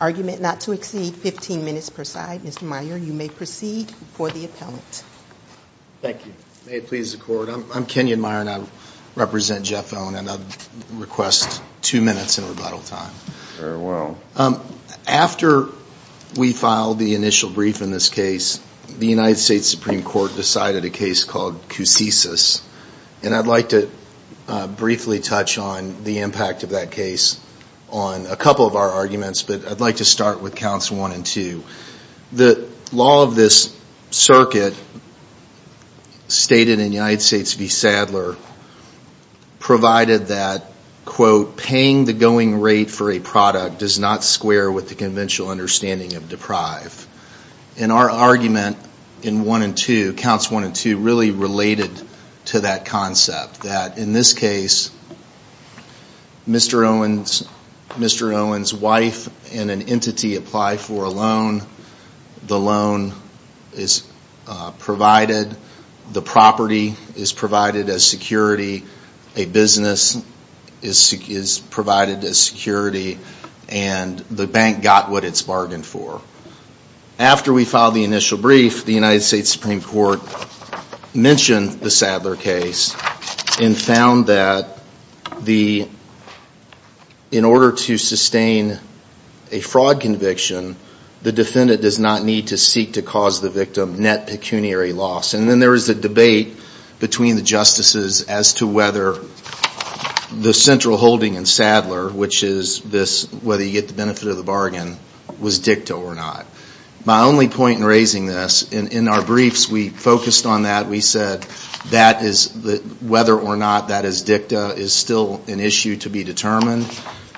argument not to exceed 15 minutes per side. Mr. Meyer, you may proceed before the appellant. Thank you. May it please the court. I'm Kenyon Meyer and I represent Jeff Owen and I'd request two minutes in rebuttal time. Very well. After we filed the initial brief in this case, the United States Supreme Court decided a case called Cusisis. And I'd like to briefly touch on the impact of that case on a couple of our arguments, but I'd like to start with counts one and two. The law of this circuit stated in United States v. Sadler provided that quote, paying the going rate for a product does not square with the conventional understanding of deprive. And our argument in one and two, counts one and two, really related to that concept that in this case, Mr. Owen's wife and an entity applied for a loan. The loan is provided, the property is provided as security, a business is provided as security, and the bank got what it's bargained for. After we filed the initial brief, the United States Supreme Court mentioned the Sadler case and found that in order to sustain a fraud conviction, the defendant does not need to seek to cause the victim net pecuniary loss. And then there was a debate between the justices as to whether the central holding in Sadler, which is whether you get the benefit of the bargain, was dicta or not. My only point in raising this, in our briefs we focused on that, we said whether or not that is dicta is still an issue to be determined.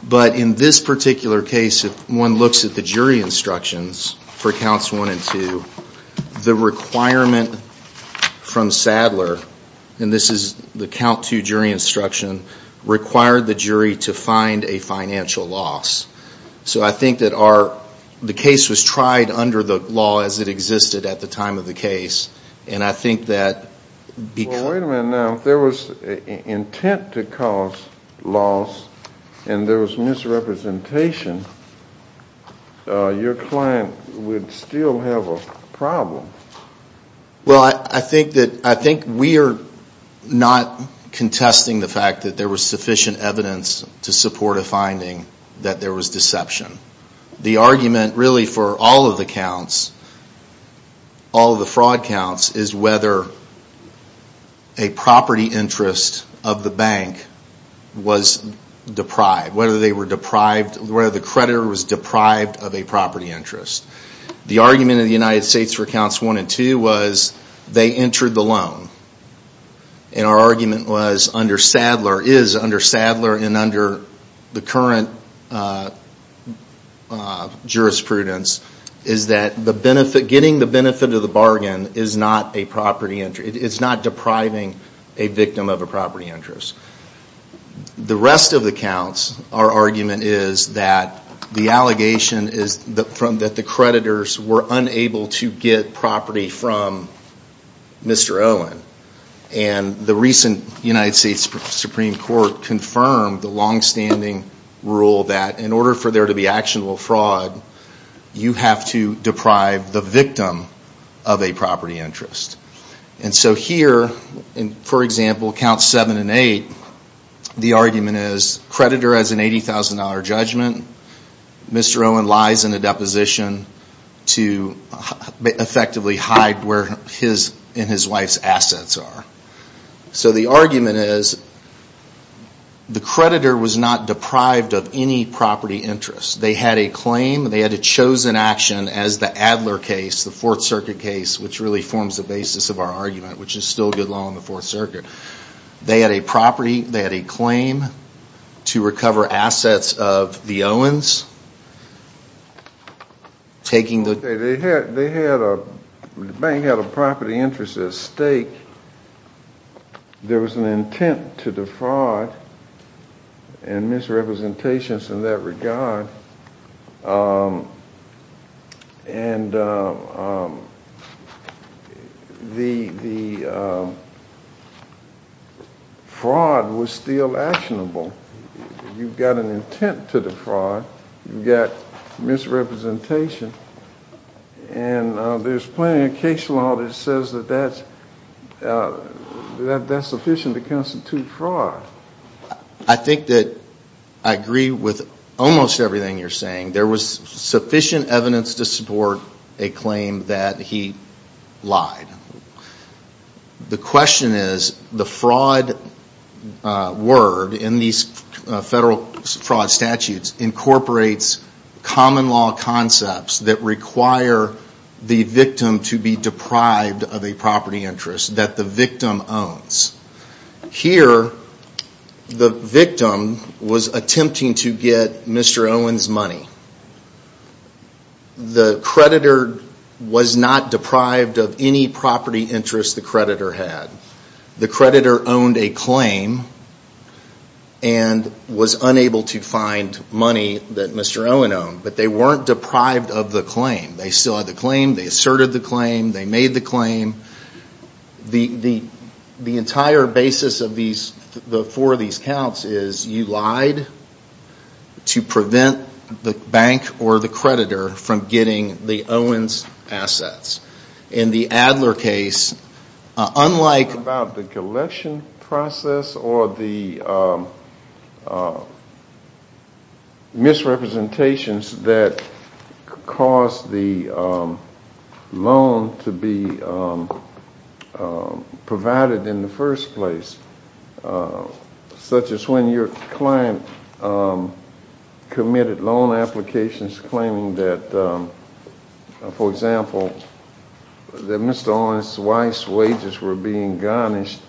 But in this particular case, if one looks at the jury instructions for counts one and two, the requirement from Sadler, and this is the count two jury instruction, required the jury to find a financial loss. So I think that the case was tried under the law as it existed at the time of the case. And I think that... Well, wait a minute now. If there was intent to cause loss and there was misrepresentation, your client would still have a problem. Well, I think we are not contesting the fact that there was sufficient evidence to support a finding that there was deception. The argument really for all of the counts, all of the fraud counts, is whether a property interest of the bank was deprived, whether the creditor was deprived of a property interest. The argument of the United States for counts one and two was they entered the loan. And our argument was under Sadler, is under Sadler, and under the current jurisprudence, is that getting the benefit of the bargain is not depriving a victim of a property interest. The rest of the counts, our argument is that the allegation is that the creditors were unable to get property from Mr. Olin. And the recent United States Supreme Court confirmed the longstanding rule that in order for there to be actionable fraud, you have to deprive the victim of a property interest. And so here, for example, counts seven and eight, the argument is creditor has an $80,000 judgment. Mr. Olin lies in a deposition to effectively hide where his and his wife's assets are. So the argument is the creditor was not deprived of any property interest. They had a claim, they had a chosen action as the Adler case, the Fourth Circuit case, which really forms the basis of our argument, which is still good law in the Fourth Circuit. They had a property, they had a claim to recover assets of the Owens. The bank had a property interest at stake. There was an intent to defraud and misrepresentations in that regard. And the fraud was still actionable. You've got an intent to defraud, but you've got misrepresentation. And there's plenty of case law that says that that's sufficient to constitute fraud. I think that I agree with almost everything you're saying. There was sufficient evidence to support a claim that he lied. The question is, the fraud word in these federal fraud statutes incorporates common law concepts that require the victim to be deprived of a property interest that the victim owns. Here, the victim was attempting to get Mr. Olin's money. The creditor was not deprived of any property interest the creditor had. The creditor owned a claim and was unable to find money that Mr. Olin owned, but they weren't deprived of the claim. They still had the claim, they asserted the claim, they made the claim. The entire basis of the four of these counts is you lied to prevent the bank or the creditor from getting the Owens' assets. In the Adler case, unlike... About the collection process or the misrepresentations that caused the loan to be provided in the first place, such as when your client committed loan applications claiming that, for example, that Mr. Olin's wife's wages were being garnished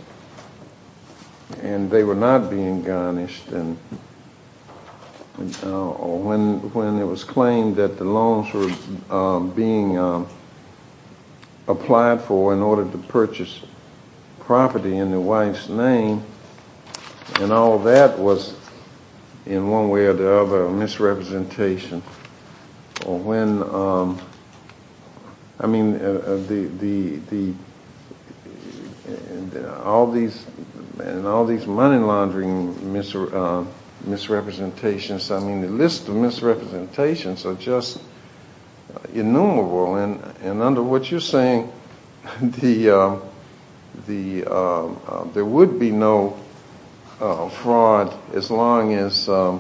and they were not being garnished, or when it was claimed that the loans were being applied for in order to purchase property in the wife's name, and all that was, in one way or the other, a misrepresentation. I mean, all these money laundering misrepresentations, the list of misrepresentations are just innumerable and under what you're saying, there would be no fraud as long as, or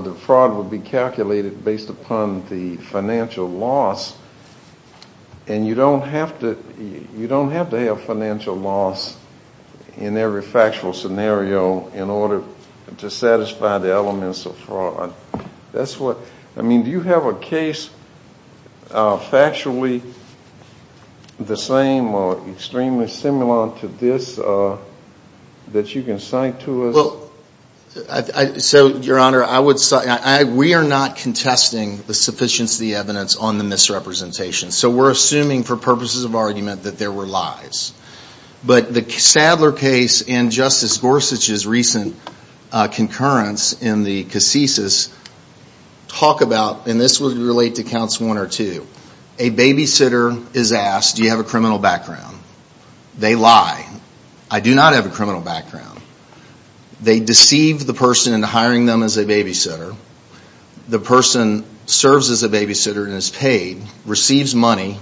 the fraud would be calculated based upon the financial loss, and you don't have to have financial loss in every factual scenario in order to satisfy the elements of fraud. That's what, I mean, do you have a case factually the same or extremely similar to this that you can cite to us? Well, so, Your Honor, we are not contesting the sufficiency of the evidence on the misrepresentations, so we're assuming for purposes of argument that there were lies. But the Sadler case and Justice Gorsuch's recent concurrence in the casesis talk about, and this would relate to counts one or two, a babysitter is asked, do you have a criminal background? They lie. I do not have a criminal background. They deceive the person into hiring them as a babysitter. The person serves as a babysitter and is paid, receives money,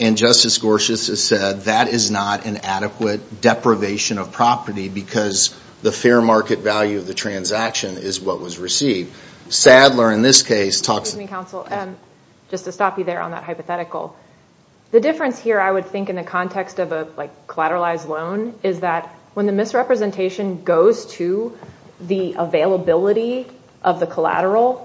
and Justice Gorsuch has said that is not an adequate deprivation of property because the fair market value of the transaction is what was received. Sadler, in this case, talks to me. Excuse me, counsel, just to stop you there on that hypothetical. The difference here, I would think, in the context of a collateralized loan is that when the misrepresentation goes to the availability of the collateral,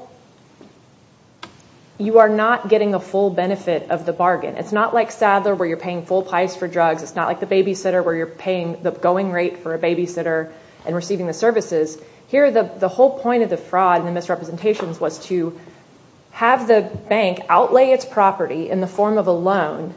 you are not getting a full benefit of the bargain. It's not like Sadler where you're paying full price for drugs. It's not like the babysitter where you're paying the going rate for a babysitter and receiving the services. Here, the whole point of the fraud and the misrepresentations was to have the bank outlay its property in the form of a loan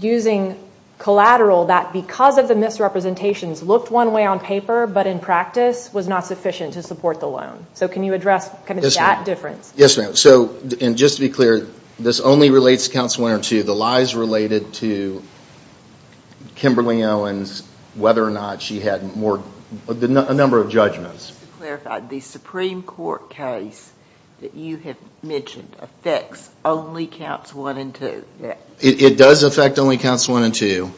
using collateral that, because of the misrepresentations, looked one way on paper but, in practice, was not sufficient to support the loan. Can you address that difference? Yes, ma'am. Just to be clear, this only relates to Councilman Winter, too. The lie is related to Kimberly Owens, whether or not she had a number of judgments. The Supreme Court case that you have mentioned affects only Counts 1 and 2. It does affect only Counts 1 and 2.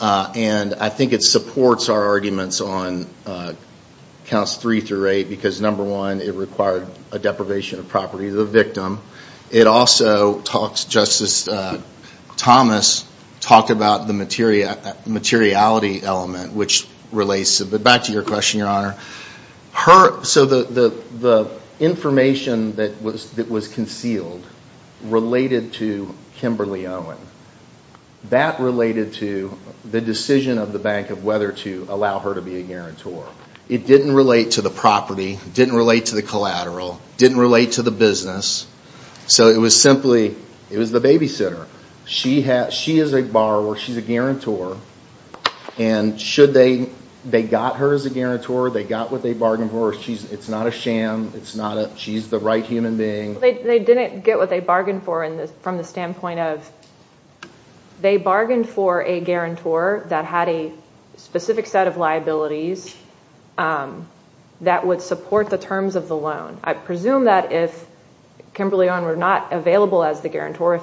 I think it supports our arguments on Counts 3 through 8 because, number one, it required a deprivation of property of the victim. It also, Justice Thomas talked about the materiality element, which relates back to your question, Your Honor. The information that was concealed related to Kimberly Owens. That related to the decision of the bank of whether to allow her to be a guarantor. It didn't relate to the property. It didn't relate to the collateral. It didn't relate to the business. It was simply the babysitter. She is a borrower. She's a guarantor. They got her as a guarantor. They got what they bargained for. It's not a sham. She's the right human being. They didn't get what they bargained for from the standpoint of they bargained for a guarantor that had a specific set of liabilities that would support the terms of the loan. I presume that if Kimberly Owens were not available as the guarantor,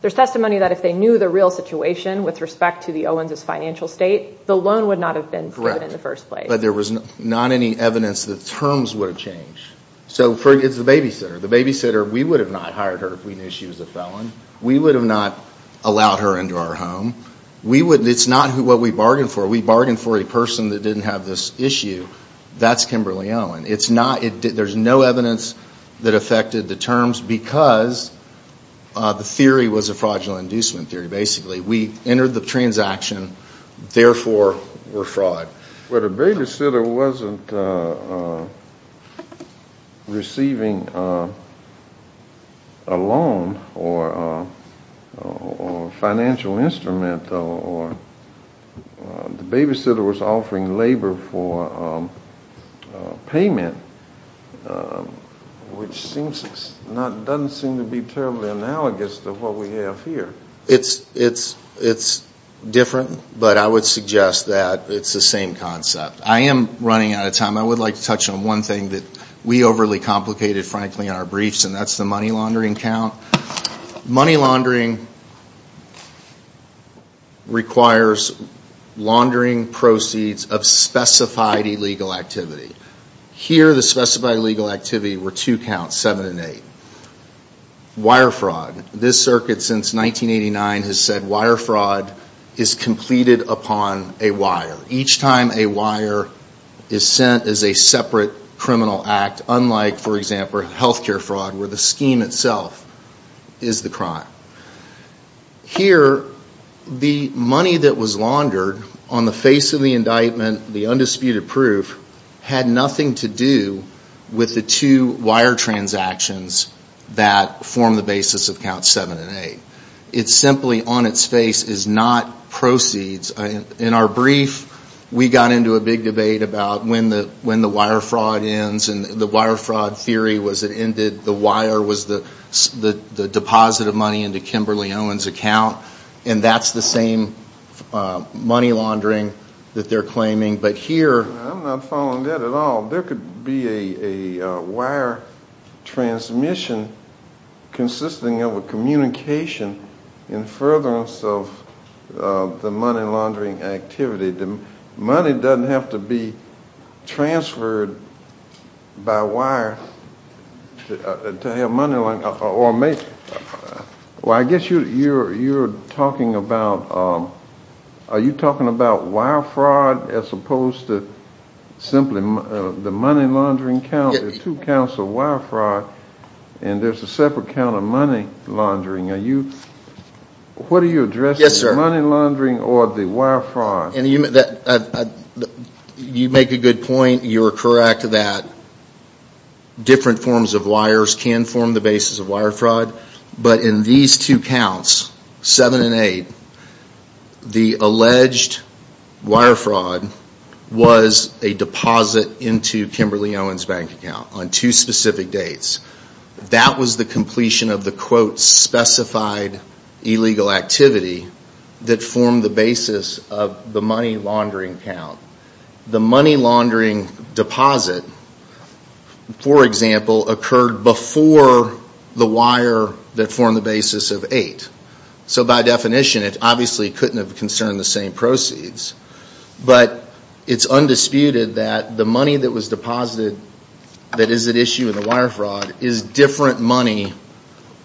there's testimony that if they knew the real situation with respect to the Owens' financial state, the loan would not have been proven in the first place. Correct. But there was not any evidence that terms would have changed. So it's the babysitter. The babysitter, we would have not hired her if we knew she was a felon. We would have not allowed her into our home. It's not what we bargained for. We bargained for a person that didn't have this issue. That's Kimberly Owens. There's no evidence that affected the terms because the theory was a fraudulent inducement theory, basically. We entered the transaction, therefore we're fraud. But a babysitter wasn't receiving a loan or a financial instrument. The babysitter was offering labor for payment, which doesn't seem to be terribly analogous to what we have here. It's different, but I would suggest that it's the same concept. I am running out of time. I would like to touch on one thing that we overly complicated, frankly, in our briefs and that's the money laundering count. Money laundering requires laundering proceeds of specified illegal activity. Here, the specified illegal activity were two counts, 7 and 8. Wire fraud. This circuit since 1989 has said wire fraud is completed upon a wire. Each time a wire is sent is a separate criminal act, unlike, for example, healthcare fraud where the scheme itself is the crime. Here, the money that was laundered on the face of the indictment, the undisputed proof, had nothing to do with the two wire transactions that form the basis of counts 7 and 8. It's simply on its face is not proceeds. In our brief, we got into a big debate about when the wire fraud ends and the wire fraud theory was it ended, the wire was the deposit of money into Kimberly Owens' account, and that's the same money laundering that they're claiming, but here... I'm not following that at all. There could be a wire transmission consisting of a communication in furtherance of the money laundering activity. The money doesn't have to be transferred by wire to have money laundering, or make. Well, I guess you're talking about money laundering count. Are you talking about wire fraud as opposed to simply the money laundering count? There are two counts of wire fraud, and there's a separate count of money laundering. What are you addressing? Is it money laundering or the wire fraud? You make a good point. You're correct that different forms of wires can form the basis of wire fraud, but in these two counts, 7 and 8, the alleged wire fraud was a deposit into Kimberly Owens' bank account on two specific dates. That was the completion of the quote specified illegal activity that formed the basis of the money laundering count. The money laundering count was the wire that formed the basis of 8. So by definition, it obviously couldn't have concerned the same proceeds, but it's undisputed that the money that was deposited that is at issue in the wire fraud is different money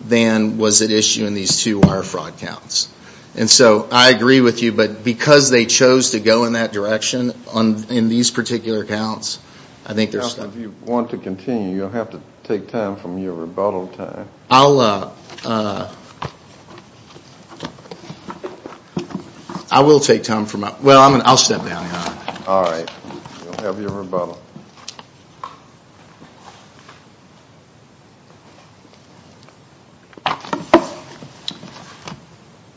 than was at issue in these two wire fraud counts. And so I agree with you, but because they chose to go in that direction in these particular counts, I think there's... Well, if you want to continue, you'll have to take time from your rebuttal time. I will take time from my... Well, I'll step down here. All right. You'll have your rebuttal.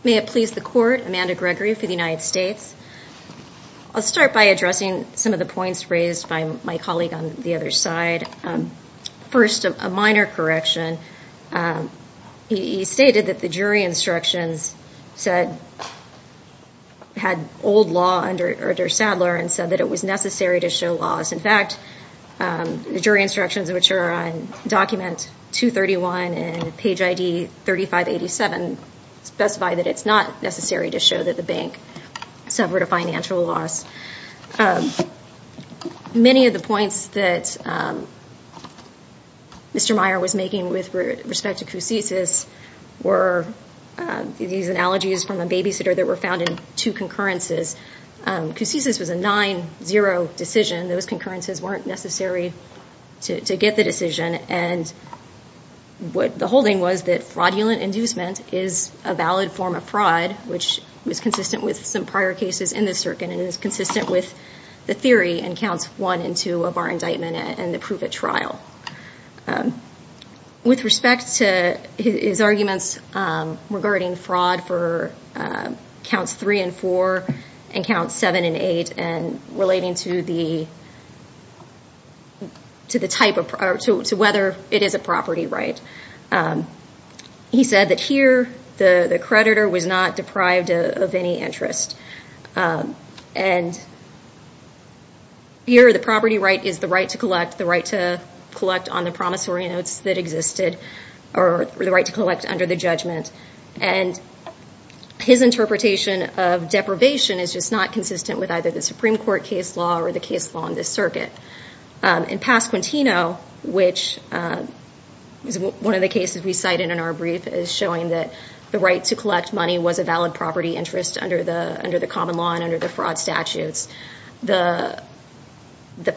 May it please the Court, Amanda Gregory for the United States. I'll start by addressing some of the points raised by my colleague on the other side. First, a minor correction. He stated that the jury instructions had old law under Sadler and said that it was necessary to show laws. In fact, the jury instructions, which are on document 231 and page ID 3587, specify that it's not necessary to show that the bank suffered a financial loss. Many of the points that Mr. Meyer was making with respect to Kousisis were these analogies from a babysitter that were found in two concurrences. Kousisis was a 9-0 decision. Those concurrences weren't necessary to get the decision. The holding was that fraudulent inducement is a valid form of fraud, which was consistent with some prior cases in the circuit and is consistent with the theory in Counts 1 and 2 of our indictment and the proof at trial. With respect to his arguments regarding fraud for Counts 3 and 4 and Counts 7 and 8 and relating to whether it is a property right, he said that here the creditor was not deprived of any interest. Here the property right is the right to collect on the promissory notes that existed or the right to collect under the judgment. His interpretation of deprivation is just not consistent with either the Supreme Court case law or the case law in this circuit. In Pasquantino, which is one of the cases we cited in our brief, is showing that the right to collect money was a valid property interest under the common law and under the fraud statutes. The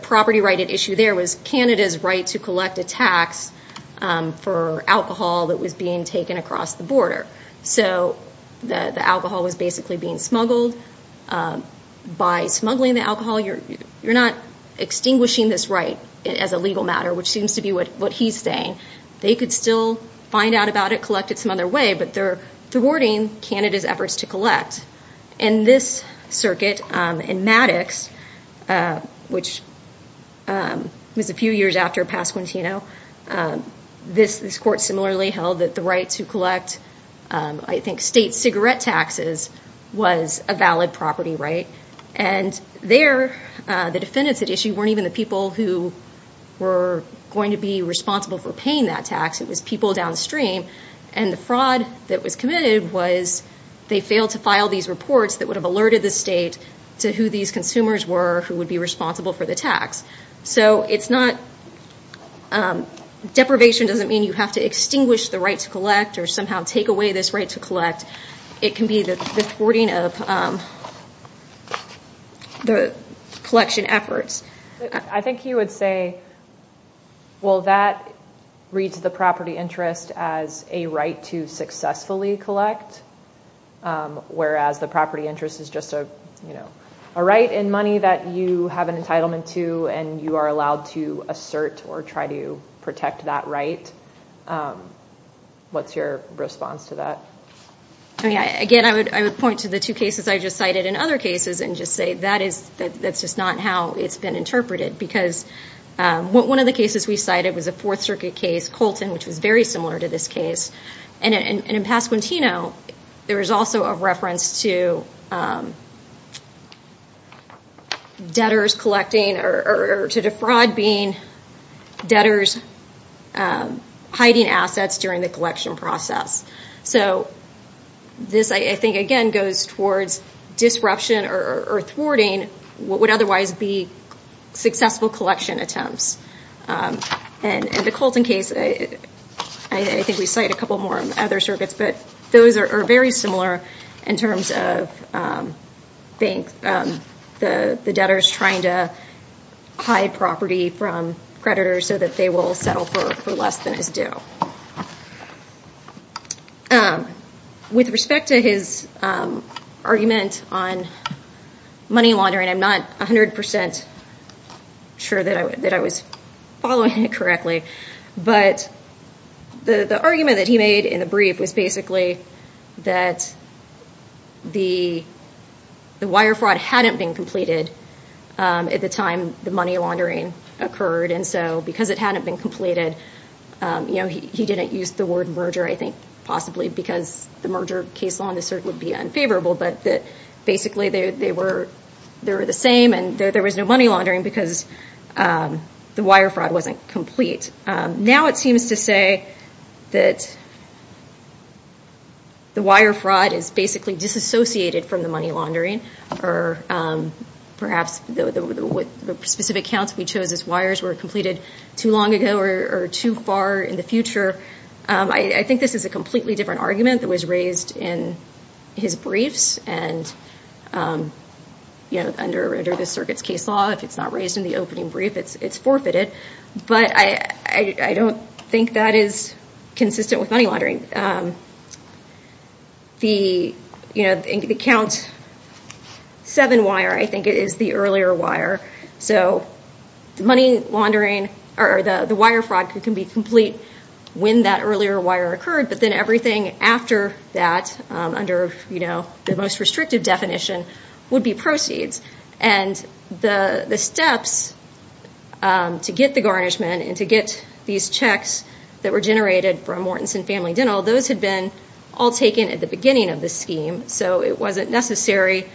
property right at issue there was Canada's right to collect a tax for alcohol that was being taken across the border. The alcohol was basically being smuggled. By smuggling the alcohol, you're not extinguishing this right as a legal matter, which seems to be what he's saying. They could still find out about it, collect it some other way, but they're thwarting Canada's efforts to collect. In this circuit, in Maddox, which was a few years after Pasquantino, this court similarly held that the right to collect state cigarette taxes was a valid property right. The defendants at issue weren't even the people who were going to be responsible for paying that tax. It was people downstream. The fraud that was committed was they failed to file these reports that would have alerted the state to who these consumers were who would be responsible for the tax. Deprivation doesn't mean you have to extinguish the right to collect or somehow take away this right to collect. It can be the thwarting of the collection efforts. I think he would say, well, that reads the property interest as a right to successfully collect, whereas the property interest is just a right and money that you have an entitlement to and you are allowed to assert or try to protect that right. What's your response to that? Again, I would point to the two cases I just cited and other cases and just say that's just not how it's been interpreted. One of the cases we cited was a Fourth Circuit case, Colton, which was very similar to this case. In Pasquantino, there was also a reference to debtors collecting or to defraud being debtors hiding assets during the collection process. This, I think, again, goes towards disruption or thwarting what would otherwise be successful collection attempts. In the Colton case, I think we cite a couple more other circuits, but those are very similar in terms of the debtors trying to hide property from creditors so that they will settle for less than is due. With respect to his argument on money laundering, I'm not 100% sure that I was following it correctly, but the argument that he made in the brief was basically that the wire fraud hadn't been completed at the time the money laundering occurred. Because it hadn't been completed, he didn't use the word merger, I think, possibly because the merger case law in this circuit would be unfavorable. But basically, they were the same and there was no money laundering because the wire fraud wasn't complete. Now it seems to say that the wire fraud is basically disassociated from the money laundering or perhaps the specific counts we chose as wires were completed too long ago or too far in the future. I think this is a completely different argument that was raised in his briefs and under the circuit's case law, if it's not raised in the opening brief, it's forfeited. But I don't think that is consistent with money laundering. And the count seven wire, I think, is the earlier wire. So the wire fraud can be complete when that earlier wire occurred, but then everything after that under the most restrictive definition would be proceeds. And the steps to get the garnishment and to get these checks that were generated from Mortenson Family Dental, those had been all taken at the beginning of the scheme, so it wasn't necessary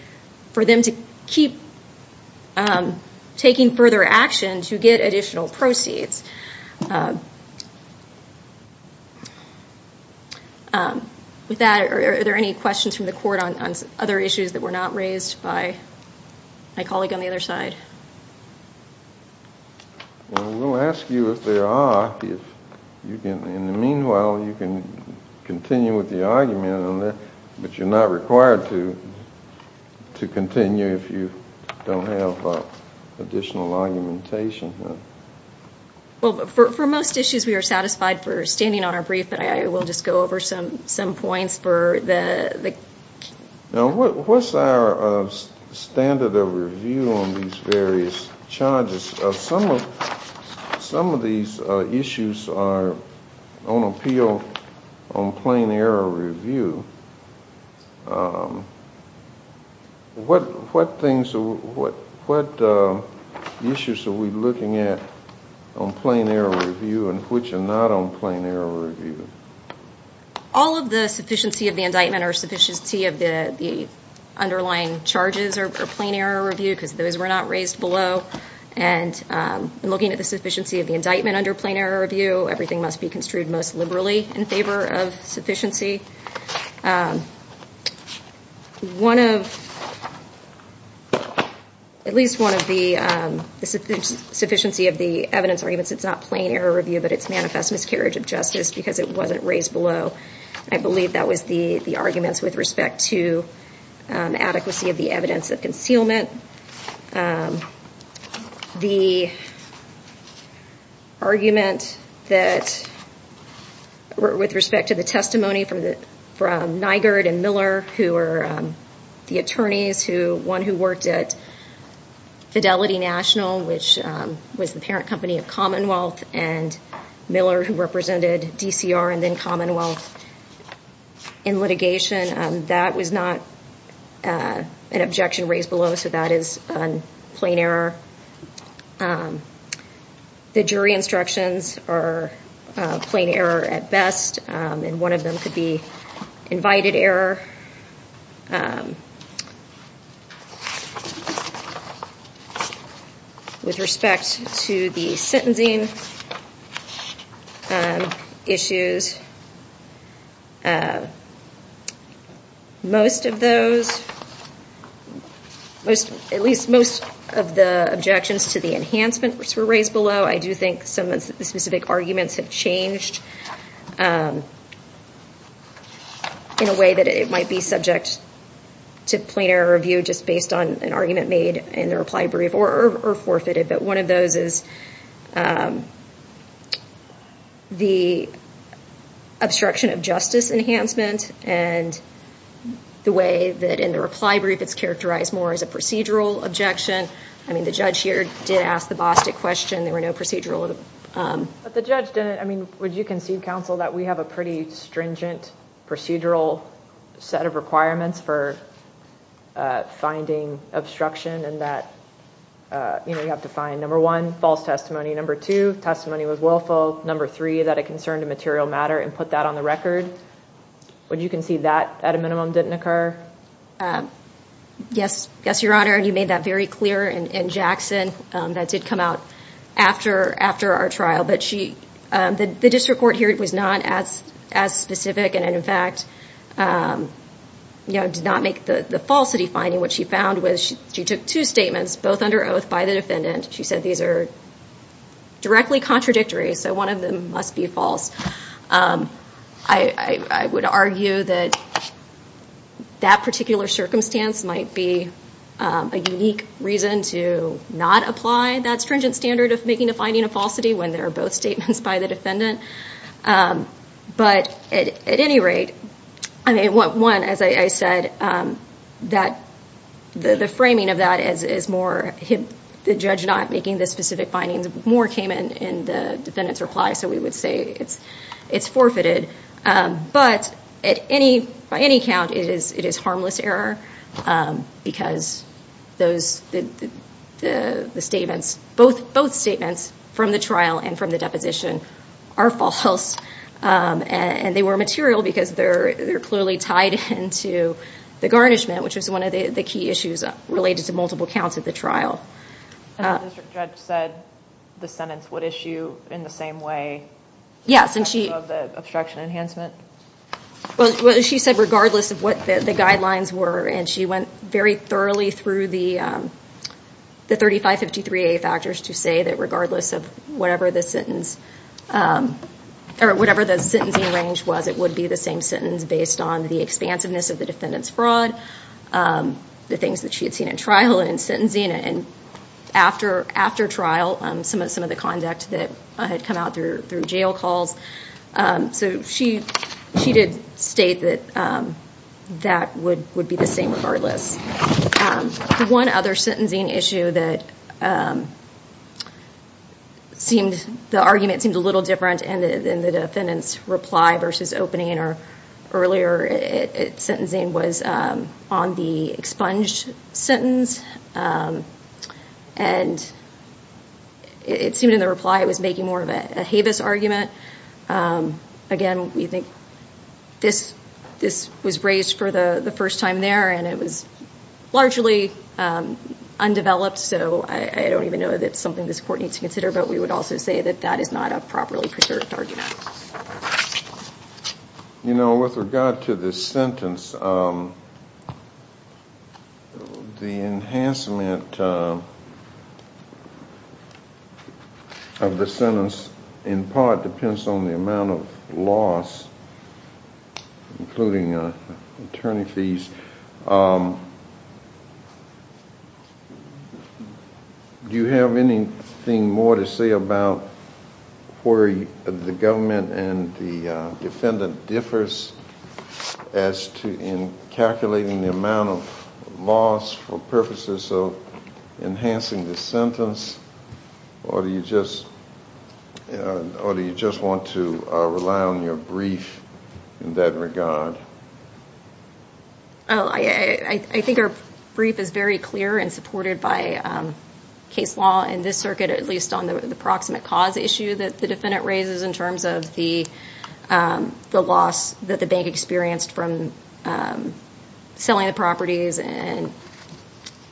for them to keep taking further action to get additional proceeds. With that, are there any questions from the court on other issues that were not raised by my colleague on the other side? Well, we'll ask you if there are. In the meanwhile, you can continue with the argument on that, but you're not required to continue if you don't have additional argumentation. For most issues, we are satisfied for standing on our brief, but I will just go over some points for the... Now, what's our standard of review on these various charges? Some of these issues are on appeal on plain-error review. What issues are we looking at on plain-error review and which are not on plain-error review? All of the sufficiency of the indictment or sufficiency of the underlying charges are plain-error review because those were not raised below. And looking at the sufficiency of the indictment under plain-error review, everything must be construed most liberally in favor of sufficiency. At least one of the sufficiency of the evidence arguments, it's not plain-error review, but it's manifest miscarriage of justice because it wasn't raised below. I believe that was the arguments with respect to adequacy of the evidence of concealment. The argument that, with respect to the testimony from Nygaard and Miller, who are the attorneys, one who worked at Fidelity National, which was the parent company of Commonwealth, and Miller, who represented DCR and then Commonwealth in litigation, that was not an objection raised below, so that is on plain-error. The jury instructions are plain-error at best, and one of them could be invited error with respect to the sentencing issues. Most of those, at least most of the objections to the enhancement, which were raised below, I do think some of the specific arguments have changed in a way that it might be subject to plain-error review just based on an argument made in the reply brief or forfeited, but one of those is the obstruction of justice enhancement and the way that in the reply brief it's characterized more as a procedural objection. I mean, the judge here did ask the Bostic question. There were no procedural – But the judge didn't, I mean, would you concede, counsel, that we have a pretty stringent procedural set of requirements for finding obstruction and that, you know, you have to find, number one, false testimony, number two, testimony was willful, number three, that it concerned a material matter and put that on the record? Would you concede that at a minimum didn't occur? Yes, Your Honor, and you made that very clear in Jackson that did come out after our trial, but the district court here was not as specific and in fact, you know, did not make the falsity finding. What she found was she took two statements, both under oath by the defendant. She said these are directly contradictory, so one of them must be false. I would argue that that particular circumstance might be a unique reason to not apply that stringent standard of making a finding a falsity when there are both statements by the defendant, but at any rate, I mean, one, as I said, that the framing of that is more the judge not making the specific findings more came in the defendant's reply, so we would say it's forfeited, but at any count, it is harmless error because the statements, both statements from the trial and from the deposition are false and they were material because they're clearly tied into the garnishment, which was one of the key issues related to multiple counts at the trial. And the district judge said the sentence would issue in the same way? Yes, and she... Because of the obstruction enhancement? Well, she said regardless of what the guidelines were, and she went very thoroughly through the 3553A factors to say that regardless of whatever the sentence, or whatever the sentencing range was, it would be the same sentence based on the expansiveness of the defendant's fraud, the things that she had seen at trial and sentencing, and after trial, some of the conduct that had come out through jail calls, so she did state that that would be the same regardless. One other sentencing issue that seemed... The argument seemed a little different in the defendant's reply versus opening or earlier sentencing was on the expunged sentence, and it seemed in the reply it was making more of a Havis argument. Again, we think this was raised for the first time there, and it was largely undeveloped, so I don't even know that it's something this court needs to consider, but we would also say that that is not a properly preserved argument. You know, with regard to this sentence, the enhancement of the defendant's fraud was a fraud of the sentence in part depends on the amount of loss, including attorney fees. Do you have anything more to say about where the government and the defendant differs in calculating the amount of loss for purposes of enhancing the sentence, or do you just want to rely on your brief in that regard? I think our brief is very clear and supported by case law in this circuit, at least on the proximate cause issue that the defendant raises in terms of the loss that the bank experienced from selling the properties and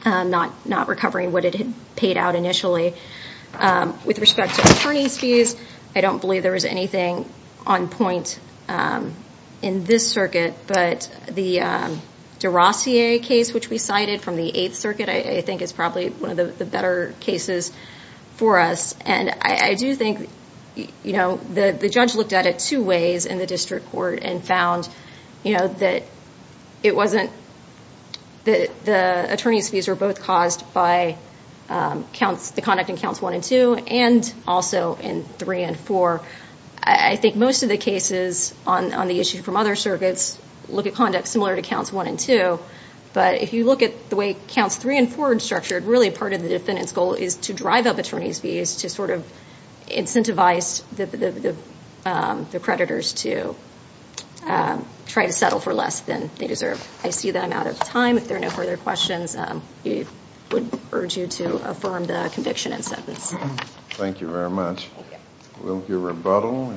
not recovering what it had paid out initially. With respect to attorney's fees, I don't believe there was anything on point in this circuit, but the Derossier case, which we cited from the Eighth Circuit, I think is probably one of the better cases for us. And I do think, you know, the judge looked at it two ways in the case, you know, that it wasn't, the attorney's fees were both caused by the conduct in counts 1 and 2 and also in 3 and 4. I think most of the cases on the issue from other circuits look at conduct similar to counts 1 and 2, but if you look at the way counts 3 and 4 are structured, really part of the defendant's goal is to drive up attorney's fees to sort of incentivize the creditors to try to settle for less than they deserve. I see that I'm out of time. If there are no further questions, I would urge you to affirm the conviction and sentence. Thank you very much. Will your rebuttal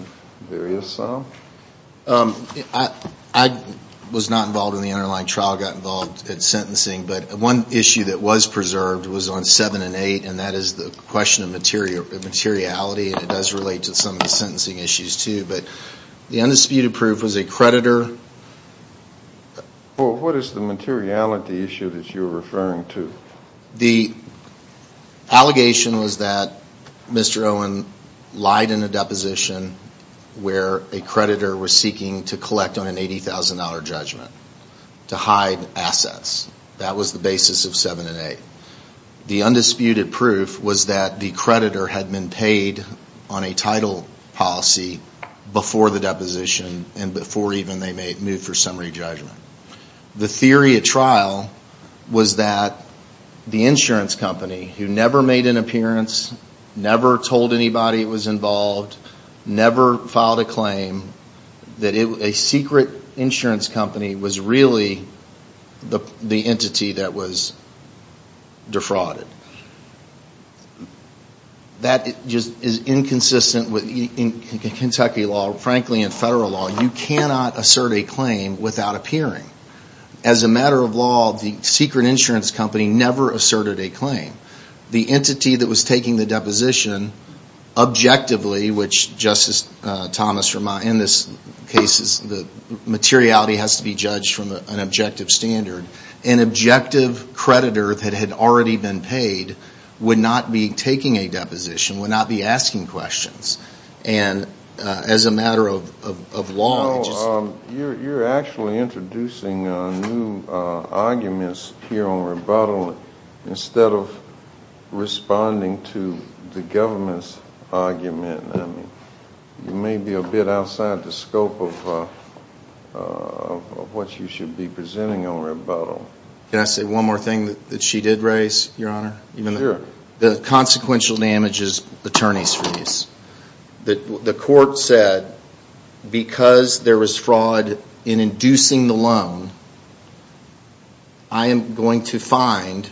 vary us off? I was not involved in the underlying trial, got involved in sentencing, but one issue that was preserved was on 7 and 8, and that is the question of materiality, and it does relate to some of the sentencing issues, too. But the undisputed proof was a creditor. What is the materiality issue that you're referring to? The allegation was that Mr. Owen lied in a deposition where a creditor was seeking to move for 7 and 8. The undisputed proof was that the creditor had been paid on a title policy before the deposition and before even they moved for summary judgment. The theory at trial was that the insurance company, who never made an appearance, never told anybody it was involved, never filed a claim, that a secret insurance company was really the defrauded. That is inconsistent with Kentucky law, frankly, and federal law. You cannot assert a claim without appearing. As a matter of law, the secret insurance company never asserted a claim. The entity that was taking the deposition objectively, which Justice Thomas in this case, the materiality has to be judged from an objective standard, an objective creditor that had already been paid, would not be taking a deposition, would not be asking questions. And as a matter of law, it's just... You're actually introducing new arguments here on rebuttal instead of responding to the government's argument. You may be a bit outside the scope of what you should be presenting on rebuttal. Can I say one more thing that she did raise, Your Honor? Sure. The consequential damage is attorney's fees. The court said, because there was fraud in inducing the loan, I am going to find,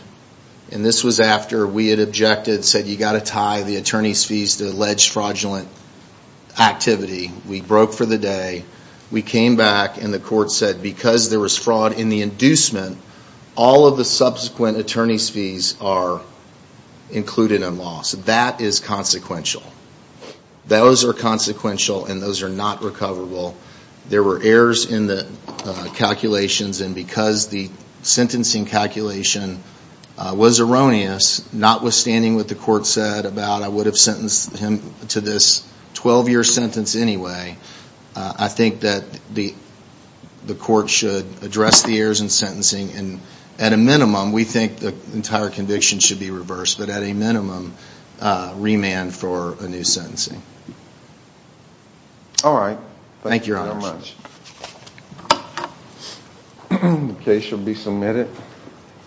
and this was after we had objected, said, you got to tie the attorney's fees to alleged fraudulent activity. We broke for the day. We came back and the court said, because there was fraud in the inducement, all of the subsequent attorney's fees are included in law. So that is consequential. Those are consequential and those are not recoverable. There were errors in the calculations and because the sentencing calculation was erroneous, notwithstanding what the court said about I would have sentenced him to this 12-year sentence anyway, I think that the court should address the errors in sentencing and at a minimum, we think the entire conviction should be reversed, but at a minimum, remand for a new sentencing.